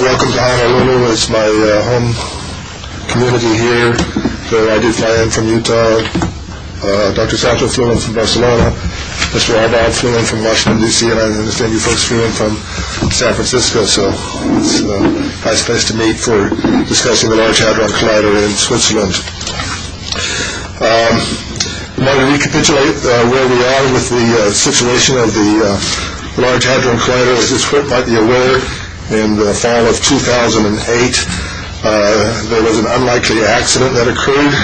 Welcome to Honolulu. It's my home community here. I did fly in from Utah. Dr. Sancho flew in from Barcelona. Mr. Arbaugh flew in from Washington, D.C., and I understand you folks flew in from San Francisco. So it's a nice place to meet for discussing the Large Hadron Collider in Switzerland. I want to recapitulate where we are with the situation of the Large Hadron Collider. As this group might be aware, in the fall of 2008, there was an unlikely accident that occurred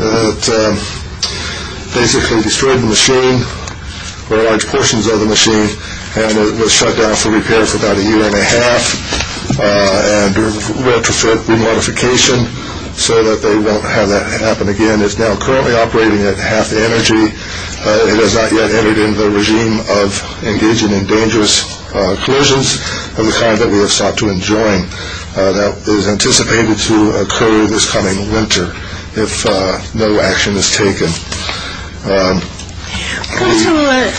that basically destroyed the machine, or large portions of the machine, and it was shut down for repair for about a year and a half. And we're doing retrofit, remodification, so that they won't have that happen again. It's now currently operating at half the energy. It has not yet entered into the regime of engaging in dangerous collisions of the kind that we have sought to enjoin. That is anticipated to occur this coming winter if no action is taken. Counselor,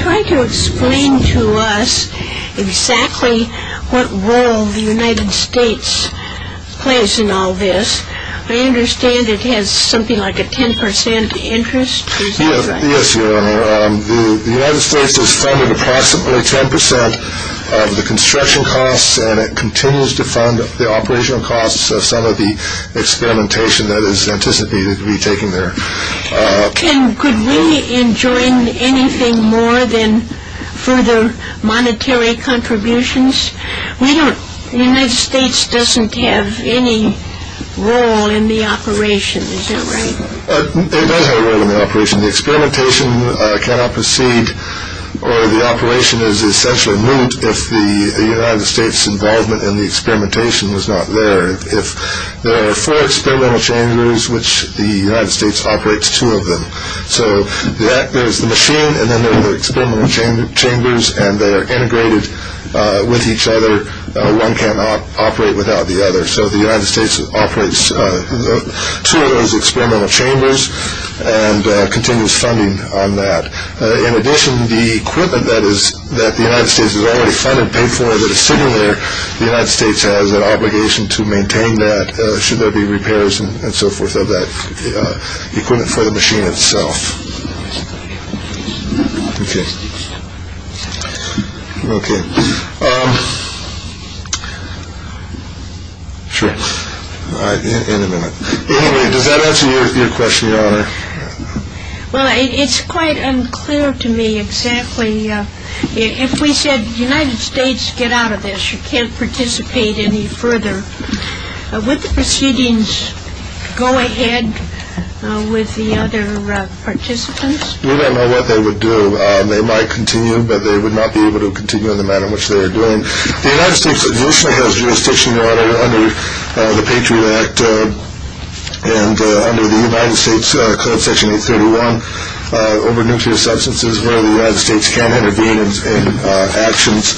try to explain to us exactly what role the United States plays in all this. I understand it has something like a 10% interest? Yes, Your Honor. The United States has funded approximately 10% of the construction costs, and it continues to fund the operational costs of some of the experimentation that is anticipated to be taken there. Could we enjoin anything more than further monetary contributions? The United States doesn't have any role in the operations, is that right? It does have a role in the operation. The experimentation cannot proceed, or the operation is essentially moot, if the United States' involvement in the experimentation is not there. There are four experimental chambers, which the United States operates two of them. There is the machine, and then there are the experimental chambers, and they are integrated with each other. One cannot operate without the other. The United States operates two of those experimental chambers and continues funding on that. In addition, the equipment that the United States has already funded, paid for, and is sitting there, the United States has an obligation to maintain that, should there be repairs and so forth of that equipment for the machine itself. Okay. Okay. Sure. All right. In a minute. Anyway, does that answer your question, Your Honor? Well, it's quite unclear to me exactly. If we said, United States, get out of this, you can't participate any further, would the proceedings go ahead with the other participants? We don't know what they would do. They might continue, but they would not be able to continue in the manner in which they are doing. The United States additionally has jurisdiction, Your Honor, under the Patriot Act and under the United States Code, Section 831, over nuclear substances, where the United States can intervene in actions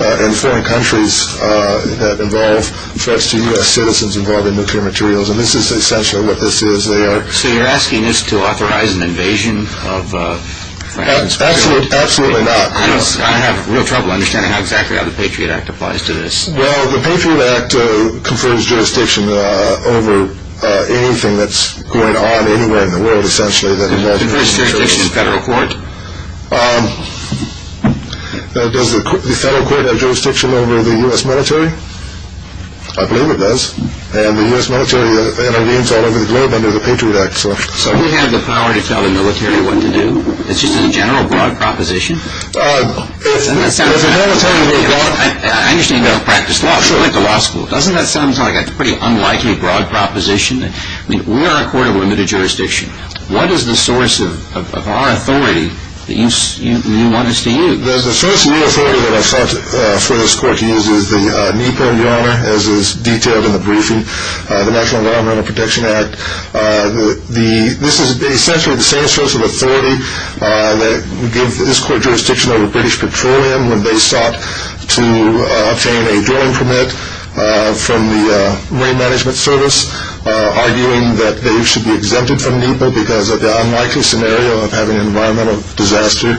in foreign countries that involve threats to U.S. citizens involved in nuclear materials. And this is essential, what this is. So you're asking us to authorize an invasion? Absolutely not. I have real trouble understanding how exactly the Patriot Act applies to this. Well, the Patriot Act confers jurisdiction over anything that's going on anywhere in the world, essentially. It confers jurisdiction to the federal court? Does the federal court have jurisdiction over the U.S. military? I believe it does. And the U.S. military intervenes all over the globe under the Patriot Act. So we have the power to tell the military what to do? It's just a general, broad proposition? I understand you don't practice law. I went to law school. Doesn't that sound like a pretty unlikely, broad proposition? I mean, we are a court of limited jurisdiction. What is the source of our authority that you want us to use? The source of your authority that I've sought for this court to use is the NEPA, Your Honor, as is detailed in the briefing, the National Environmental Protection Act. This is essentially the same source of authority that we give this court jurisdiction over British Petroleum when they sought to obtain a drilling permit from the Rain Management Service, arguing that they should be exempted from NEPA because of the unlikely scenario of having an environmental disaster. I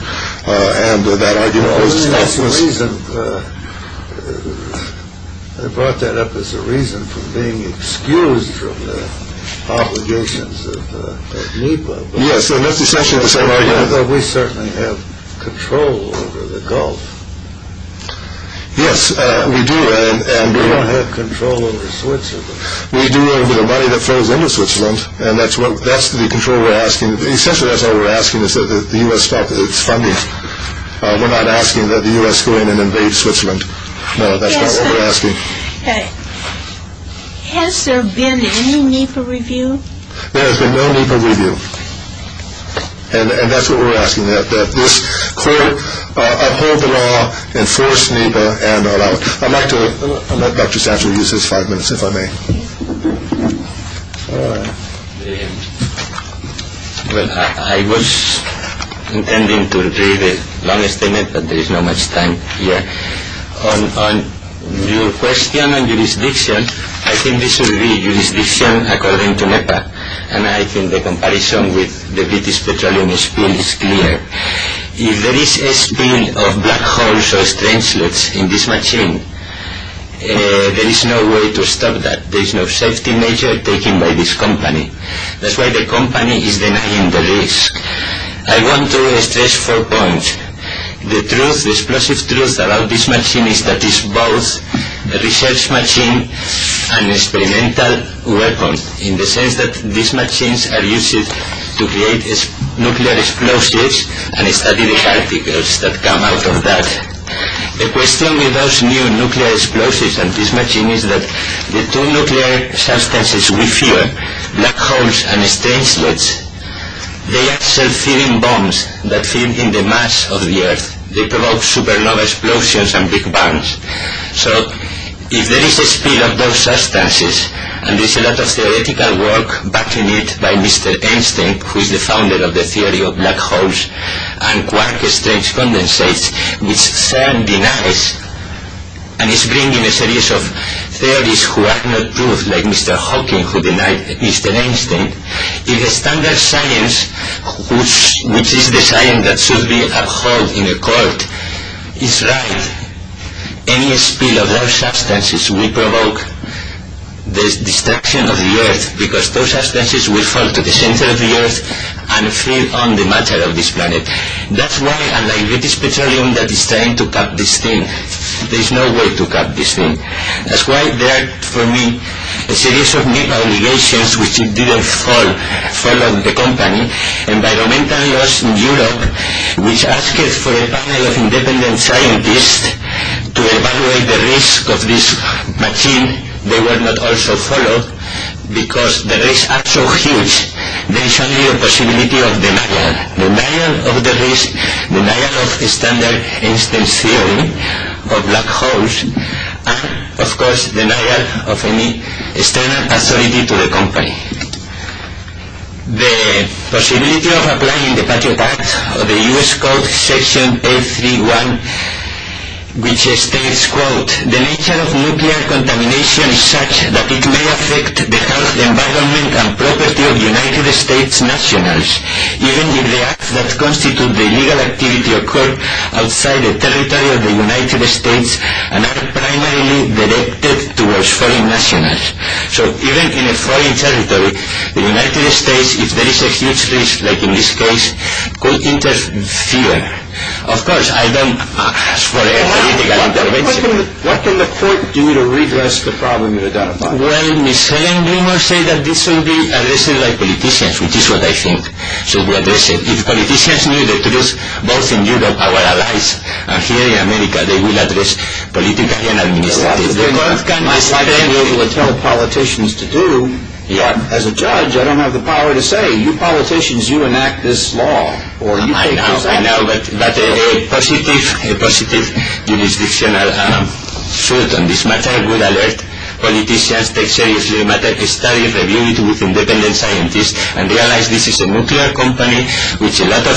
brought that up as a reason for being excused from the obligations of NEPA. Yes, and that's essentially the same argument. We certainly have control over the Gulf. Yes, we do. We don't have control over Switzerland. We do over the money that flows into Switzerland, and that's the control we're asking. What we're asking is that the U.S. stop its funding. We're not asking that the U.S. go in and invade Switzerland. No, that's not what we're asking. Has there been any NEPA review? There has been no NEPA review. And that's what we're asking, that this court uphold the law, enforce NEPA, and allow it. I'd like Dr. Satcher to use his five minutes, if I may. Well, I was intending to read a long statement, but there is not much time here. On your question on jurisdiction, I think this will be jurisdiction according to NEPA, and I think the comparison with the British petroleum spill is clear. If there is a spill of black holes or strange sludge in this machine, there is no way to stop that. There is no safety measure taken by this company. That's why the company is denying the risk. I want to stress four points. The truth, the explosive truth about this machine is that it's both a research machine and an experimental weapon, in the sense that these machines are used to create nuclear explosives and study the particles that come out of that. The question with those new nuclear explosives and this machine is that the two nuclear substances we fear, black holes and strange sludge, they are self-filling bombs that fill in the mass of the Earth. They provoke supernova explosions and big bombs. So, if there is a spill of those substances, and there is a lot of theoretical work backing it by Mr. Einstein, who is the founder of the theory of black holes and quark-strange condensates, which CERN denies and is bringing a series of theories that are not true, like Mr. Hawking who denied Mr. Einstein, if the standard science, which is the science that should be upheld in a court, is right, any spill of those substances will provoke the destruction of the Earth, because those substances will fall to the center of the Earth and fill on the matter of this planet. That's why, unlike British Petroleum that is trying to cap this thing, there is no way to cap this thing. That's why there are, for me, a series of new obligations which didn't follow the company. Environmental Laws in Europe, which asked for a panel of independent scientists to evaluate the risk of this machine, they were not also followed, because the risks are so huge, there is only a possibility of denial. Denial of the risk, denial of standard Einstein's theory of black holes, and, of course, denial of any standard authority to the company. The possibility of applying the Patriot Act or the U.S. Code Section 831, which states, quote, the nature of nuclear contamination is such that it may affect the health, and the acts that constitute the illegal activity occur outside the territory of the United States and are primarily directed towards foreign nationals. So, even in a foreign territory, the United States, if there is a huge risk, like in this case, could interfere. Of course, I don't ask for a political intervention. What can the court do to redress the problem you are identifying? Well, miscellaneous rumors say that this will be addressed by politicians, which is what I think. If politicians knew the truth, both in Europe, our allies, and here in America, they would address politicians and administrators. The court cannot be able to tell politicians to do. As a judge, I don't have the power to say, you politicians, you enact this law. I know, but a positive jurisdictional suit on this matter would alert politicians, take seriously the matter, study it, review it with independent scientists, and realize this is a nuclear company with a lot of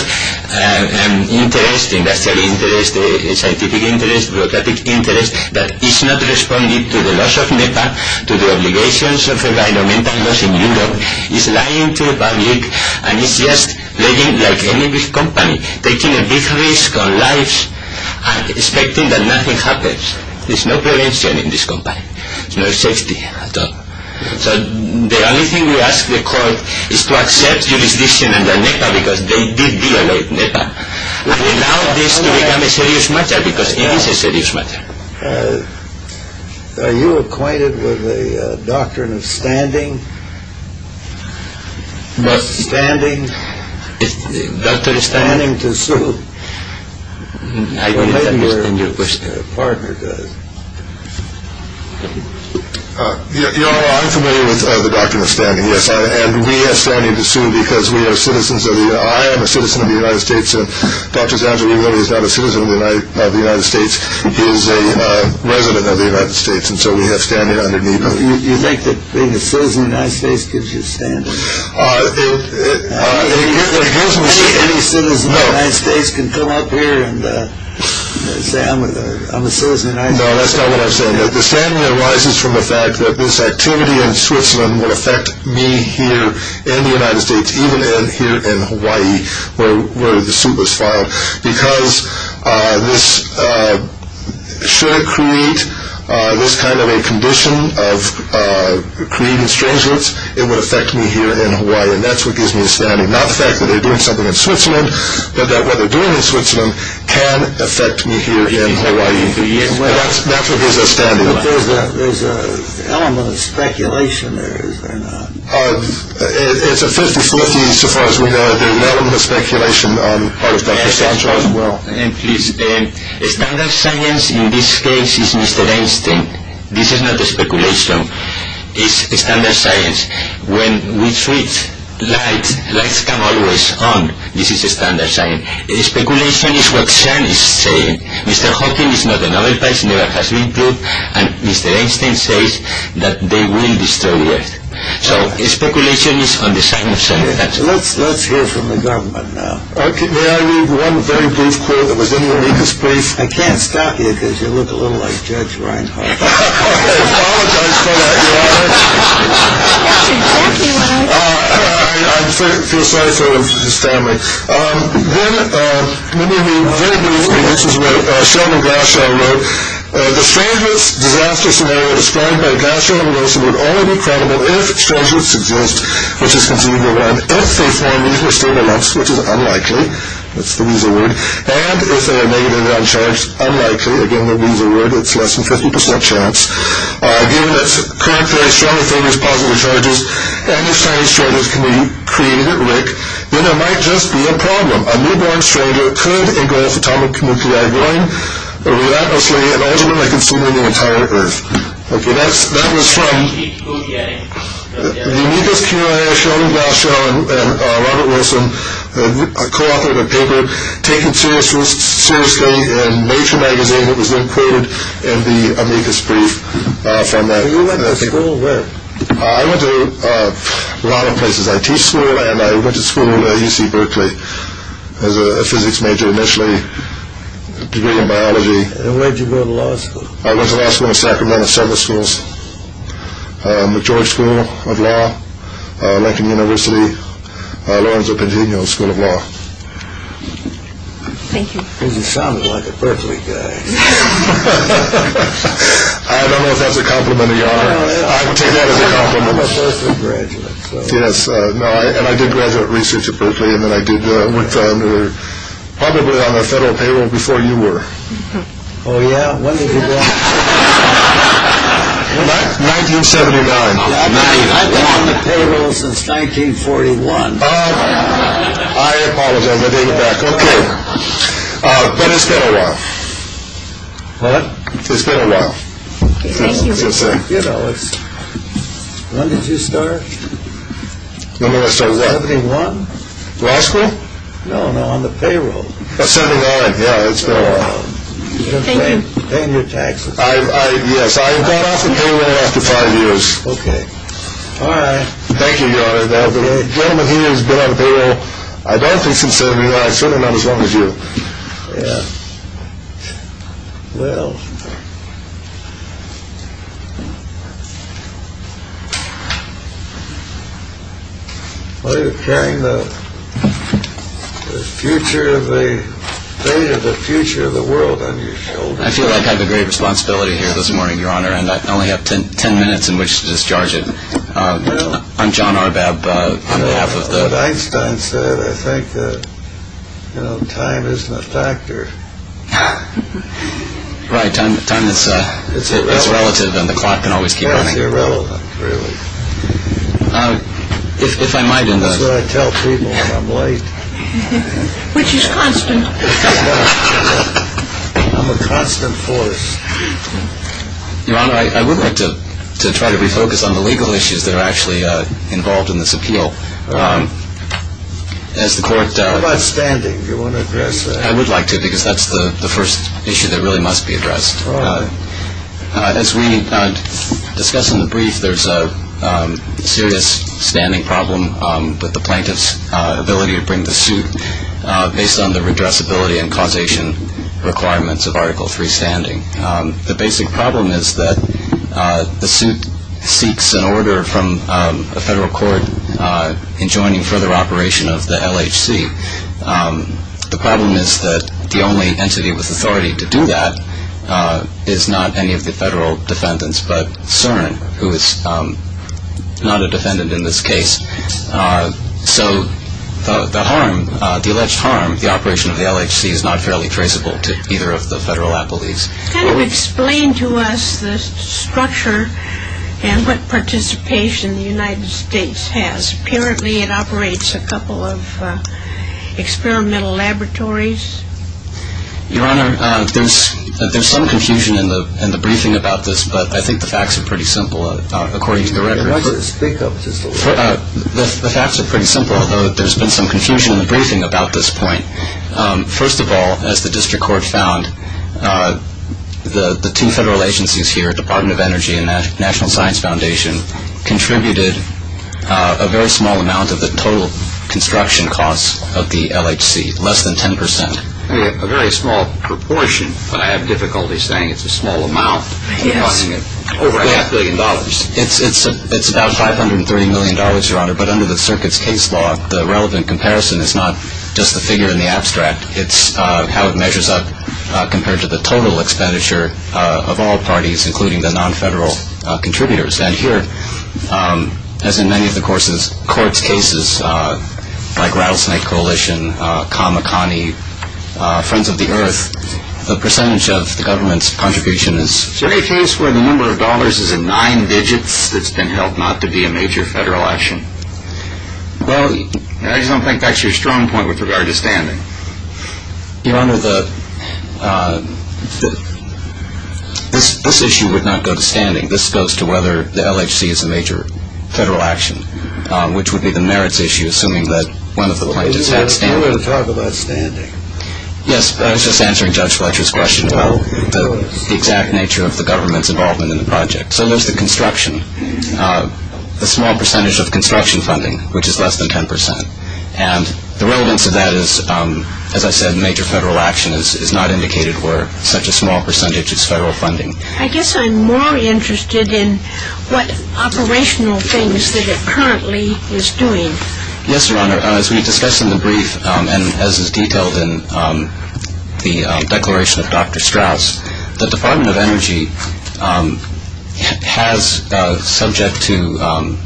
interest, industrial interest, scientific interest, bureaucratic interest, that is not responding to the loss of NEPA, to the obligations of environmental loss in Europe. It's lying to the public, and it's just playing like any big company, taking a big risk on lives, expecting that nothing happens. There's no prevention in this company. There's no safety at all. So the only thing we ask the court is to accept jurisdiction under NEPA, because they did violate NEPA. We allow this to become a serious matter, because it is a serious matter. Are you acquainted with the doctrine of standing? What? Standing. Doctrine of standing? Standing to sue. I don't understand your question. Or maybe your partner does. You know, I'm familiar with the doctrine of standing, yes, and we are standing to sue because we are citizens of the United States. I am a citizen of the United States. Dr. Zanzibari is not a citizen of the United States. He is a resident of the United States, and so we have standing under NEPA. You think that being a citizen of the United States gives you standing? It gives me standing. Any citizen of the United States can come up here and say, No, that's not what I'm saying. The standing arises from the fact that this activity in Switzerland will affect me here in the United States, even here in Hawaii, where the suit was filed, because should it create this kind of a condition of creating strange events, it would affect me here in Hawaii, and that's what gives me standing. Not the fact that they're doing something in Switzerland, but that what they're doing in Switzerland can affect me here in Hawaii. That's what gives us standing. But there's an element of speculation there, is there not? It's a 50-50, so far as we know. There's an element of speculation on Artist Dr. Sancho as well. And please, standard science in this case is Mr. Einstein. This is not a speculation. It's standard science. When we switch lights, lights come always on. This is standard science. Speculation is what Sancho is saying. Mr. Hawking is not a Nobel Prize winner, has been proved, and Mr. Einstein says that they will destroy the Earth. So, speculation is on the side of standard science. Let's hear from the government now. May I read one very brief quote that was in your latest brief? I can't stop you, because you look a little like Judge Reinhold. I apologize for that, Your Honor. That's exactly what I was... I feel sorry for Mr. Stanley. Then, let me read very briefly. This is what Sheldon Glashow wrote. The Stranglitz disaster scenario described by Glashow and Glashow would only be credible if Stranglitz exists, which is conceivable then, if they form these mysterious elements, which is unlikely. That's the weasel word. And if they are negatively uncharged, unlikely. Again, the weasel word. It's less than 50% chance. Given that currently Stranglitz carries positive charges, and if tiny strangers can be created at will, then there might just be a problem. A newborn stranger could engulf atomic nuclei, going relentlessly and ultimately consuming the entire Earth. Okay, that was from... The Amicus Q&A, Sheldon Glashow and Robert Wilson co-authored a paper taken seriously in Nature magazine that was then quoted in the Amicus brief from that paper. So you went to school where? I went to a lot of places. I teach school, and I went to school at UC Berkeley as a physics major initially, a degree in biology. And where did you go to law school? I went to law school in Sacramento, several schools. McGeorge School of Law, Lincoln University, Lorenzo Pantino School of Law. Thank you. You sounded like a Berkeley guy. I don't know if that's a compliment, Your Honor. I take that as a compliment. I'm a Berkeley graduate, so... Yes, and I did graduate research at Berkeley, and then I worked probably on the federal payroll before you were. Oh, yeah? When did you go? 1979. I've been on the payroll since 1941. I apologize. I'll get it back. Okay. But it's been a while. What? It's been a while. Thank you. You know, it's... When did you start? When did I start what? 71? Law school? No, no, on the payroll. 79, yeah, it's been a while. You've been paying your taxes. Yes, I got off the payroll after five years. Okay. All right. Thank you, Your Honor. The gentleman here has been on the payroll, I don't think, since 79, certainly not as long as you. Yeah. Well... Well, you're carrying the future of the... the future of the world under your shoulder. I feel like I have a great responsibility here this morning, Your Honor, and I only have ten minutes in which to discharge it. I'm John Arbab on behalf of the... What Einstein said, I think that, you know, time isn't a factor. Right, time is relative and the clock can always keep running. It's irrelevant, really. If I might... That's what I tell people when I'm late. Which is constant. I'm a constant force. Your Honor, I would like to try to refocus on the legal issues that are actually involved in this appeal. How about standing? Do you want to address that? I would like to because that's the first issue that really must be addressed. All right. As we discussed in the brief, there's a serious standing problem with the plaintiff's ability to bring the suit based on the redressability and causation requirements of Article III standing. The basic problem is that the suit seeks an order from a federal court enjoining further operation of the LHC. The problem is that the only entity with authority to do that is not any of the federal defendants but CERN, who is not a defendant in this case. So the alleged harm, the operation of the LHC, is not fairly traceable to either of the federal appellees. Kind of explain to us the structure and what participation the United States has. Apparently it operates a couple of experimental laboratories. Your Honor, there's some confusion in the briefing about this, but I think the facts are pretty simple according to the records. The facts are pretty simple, although there's been some confusion in the briefing about this point. First of all, as the district court found, the two federal agencies here, Department of Energy and National Science Foundation, contributed a very small amount of the total construction costs of the LHC, less than 10 percent. A very small proportion, but I have difficulty saying it's a small amount, over a half billion dollars. It's about $530 million, Your Honor, but under the circuit's case law, the relevant comparison is not just the figure in the abstract, it's how it measures up compared to the total expenditure of all parties, including the non-federal contributors. And here, as in many of the court's cases, like Rattlesnake Coalition, Kamakani, Friends of the Earth, the percentage of the government's contribution is... Is there any case where the number of dollars is in nine digits that's been held not to be a major federal action? Well, I just don't think that's your strong point with regard to standing. Your Honor, this issue would not go to standing. This goes to whether the LHC is a major federal action, which would be the merits issue, assuming that one of the plaintiffs had standing. You want to talk about standing? Yes, I was just answering Judge Fletcher's question about the exact nature of the government's involvement in the project. So there's the construction, the small percentage of construction funding, which is less than 10 percent. And the relevance of that is, as I said, major federal action is not indicated where such a small percentage is federal funding. I guess I'm more interested in what operational things that it currently is doing. Yes, Your Honor. As we discussed in the brief and as is detailed in the declaration of Dr. Strauss, the Department of Energy has, subject to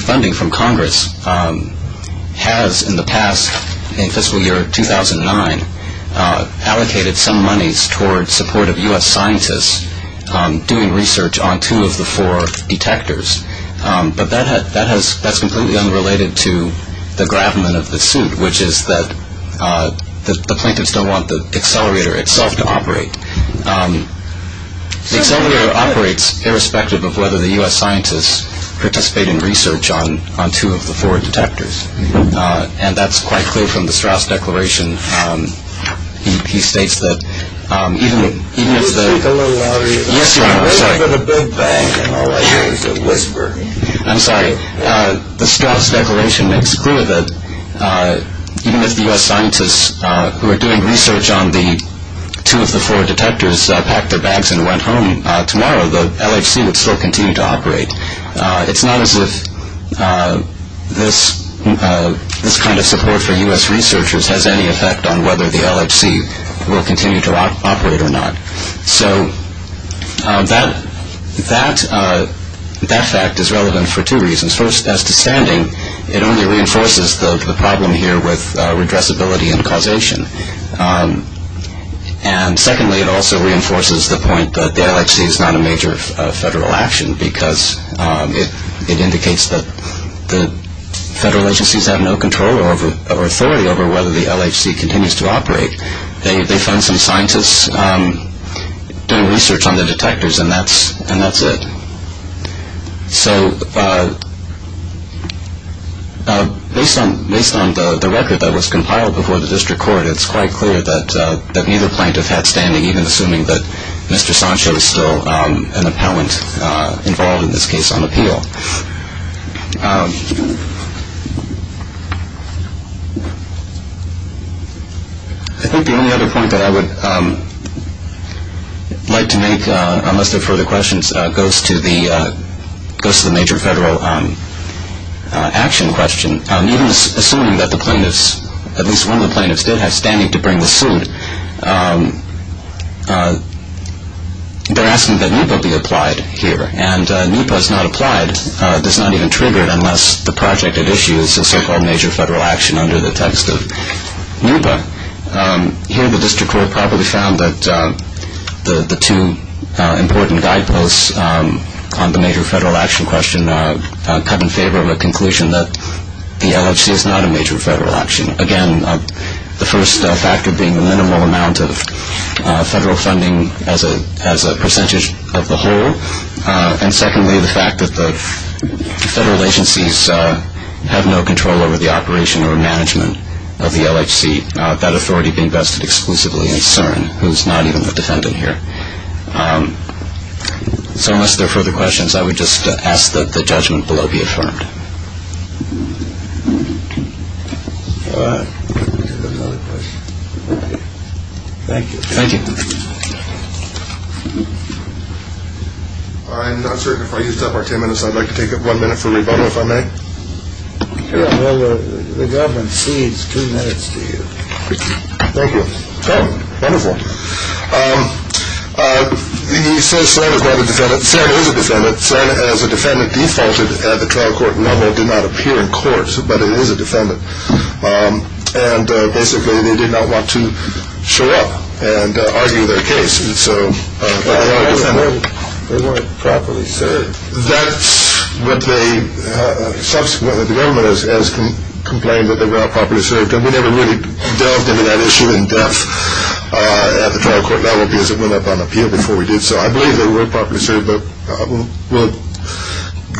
funding from Congress, has in the past, in fiscal year 2009, allocated some monies toward support of U.S. scientists doing research on two of the four detectors. But that's completely unrelated to the gravamen of the suit, which is that the plaintiffs don't want the accelerator itself to operate. The accelerator operates irrespective of whether the U.S. scientists participate in research on two of the four detectors. And that's quite clear from the Strauss declaration. He states that even if the... I'm sorry. The Strauss declaration makes clear that even if the U.S. scientists who are doing research on two of the four detectors packed their bags and went home tomorrow, the LHC would still continue to operate. It's not as if this kind of support for U.S. researchers has any effect on whether the LHC will continue to operate or not. So that fact is relevant for two reasons. First, as to standing, it only reinforces the problem here with redressability and causation. And secondly, it also reinforces the point that the LHC is not a major federal action because it indicates that the federal agencies have no control or authority They fund some scientists doing research on the detectors and that's it. So based on the record that was compiled before the district court, it's quite clear that neither plaintiff had standing, even assuming that Mr. Sancho is still an appellant involved in this case on appeal. I think the only other point that I would like to make, unless there are further questions, goes to the major federal action question. Even assuming that the plaintiffs, at least one of the plaintiffs, did have standing to bring the suit, they're asking that NEPA be applied here. And NEPA is not applied, it's not even triggered, unless the project at issue is a so-called major federal action under the text of NEPA. Here the district court probably found that the two important guideposts on the major federal action question come in favor of a conclusion that the LHC is not a major federal action. Again, the first factor being the minimal amount of federal funding as a percentage of the whole. And secondly, the fact that the federal agencies have no control over the operation or management of the LHC, that authority being vested exclusively in CERN, who's not even a defendant here. So unless there are further questions, I would just ask that the judgment below be affirmed. All right. Thank you. Thank you. I'm not sure if I used up our ten minutes. I'd like to take one minute for rebuttal, if I may. Well, the government cedes two minutes to you. Thank you. Oh, wonderful. He says CERN is not a defendant. CERN is a defendant. CERN, as a defendant, defaulted at the trial court level, did not appear in court, but it is a defendant. And basically they did not want to show up and argue their case. And so they are a defendant. They weren't properly served. That's what they subsequently, the government has complained that they were not properly served. And we never really delved into that issue in depth at the trial court level because it went up on appeal before we did so. I believe they weren't properly served, but we'll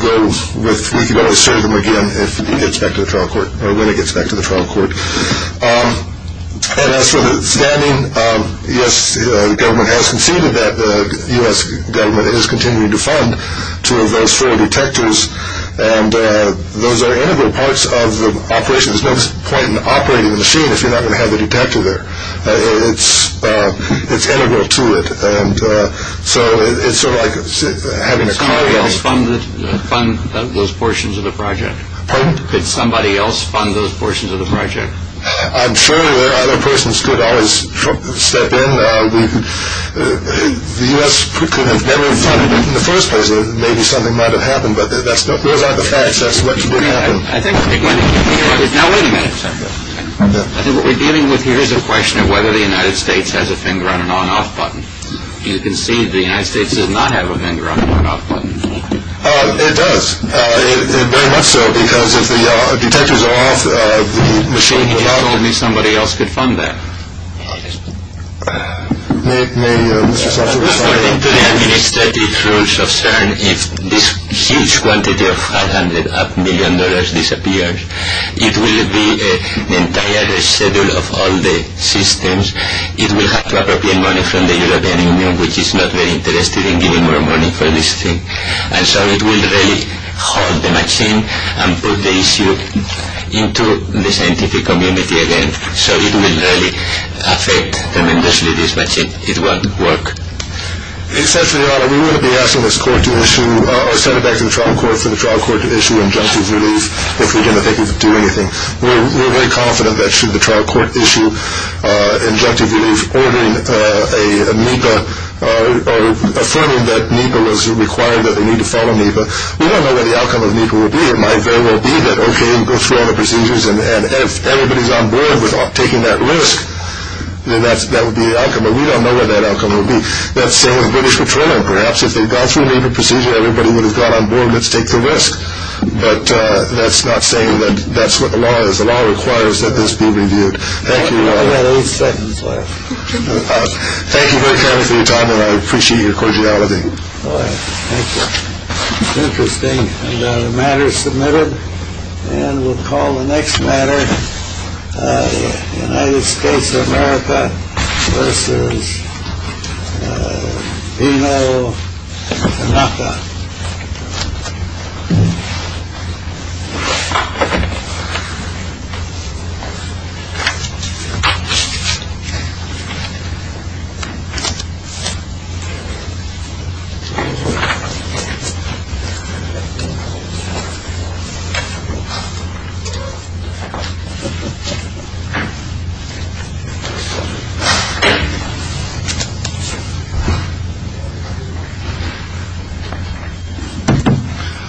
go with we can only serve them again if it gets back to the trial court, or when it gets back to the trial court. And as for the standing, yes, the government has conceded that the U.S. government is continuing to fund two of those four detectors. And those are integral parts of the operation. There's no point in operating the machine if you're not going to have the detector there. It's integral to it. And so it's sort of like having a car. Somebody else fund those portions of the project? Pardon? Could somebody else fund those portions of the project? I'm sure other persons could always step in. The U.S. could have never funded it in the first place. Maybe something might have happened, but those aren't the facts. That's what could have happened. Now, wait a minute. I think what we're dealing with here is a question of whether the United States has a finger on an on-off button. You concede the United States does not have a finger on an on-off button. It does, very much so, because if the detectors are off, the machine goes off. You just told me somebody else could fund that. May Mr. Satcher respond? According to the administrative rules of CERN, if this huge quantity of $500 million disappears, it will be an entire reschedule of all the systems. It will have to appropriate money from the European Union, which is not very interested in giving more money for this thing. And so it will really haul the machine and put the issue into the scientific community again. So it will really affect tremendously this machine. It won't work. Essentially, we wouldn't be asking this court to issue or sending it back to the trial court for the trial court to issue injunctive relief if we're going to think of doing anything. We're very confident that should the trial court issue injunctive relief, ordering a NEPA or affirming that NEPA was required, that they need to follow NEPA, we don't know what the outcome of NEPA will be. It might very well be that, okay, we go through all the procedures, and if everybody's on board with taking that risk, then that would be the outcome. But we don't know what that outcome will be. That's the same as British Petroleum. Perhaps if they'd gone through the NEPA procedure, everybody would have gone on board, let's take the risk. But that's not saying that that's what the law is. The law requires that this be reviewed. Thank you. I've got eight seconds left. Thank you very kindly for your time, and I appreciate your cordiality. Thank you. It's interesting. The matter is submitted, and we'll call the next matter United States of America versus Pino Anapa. Thank you very much. Thank you.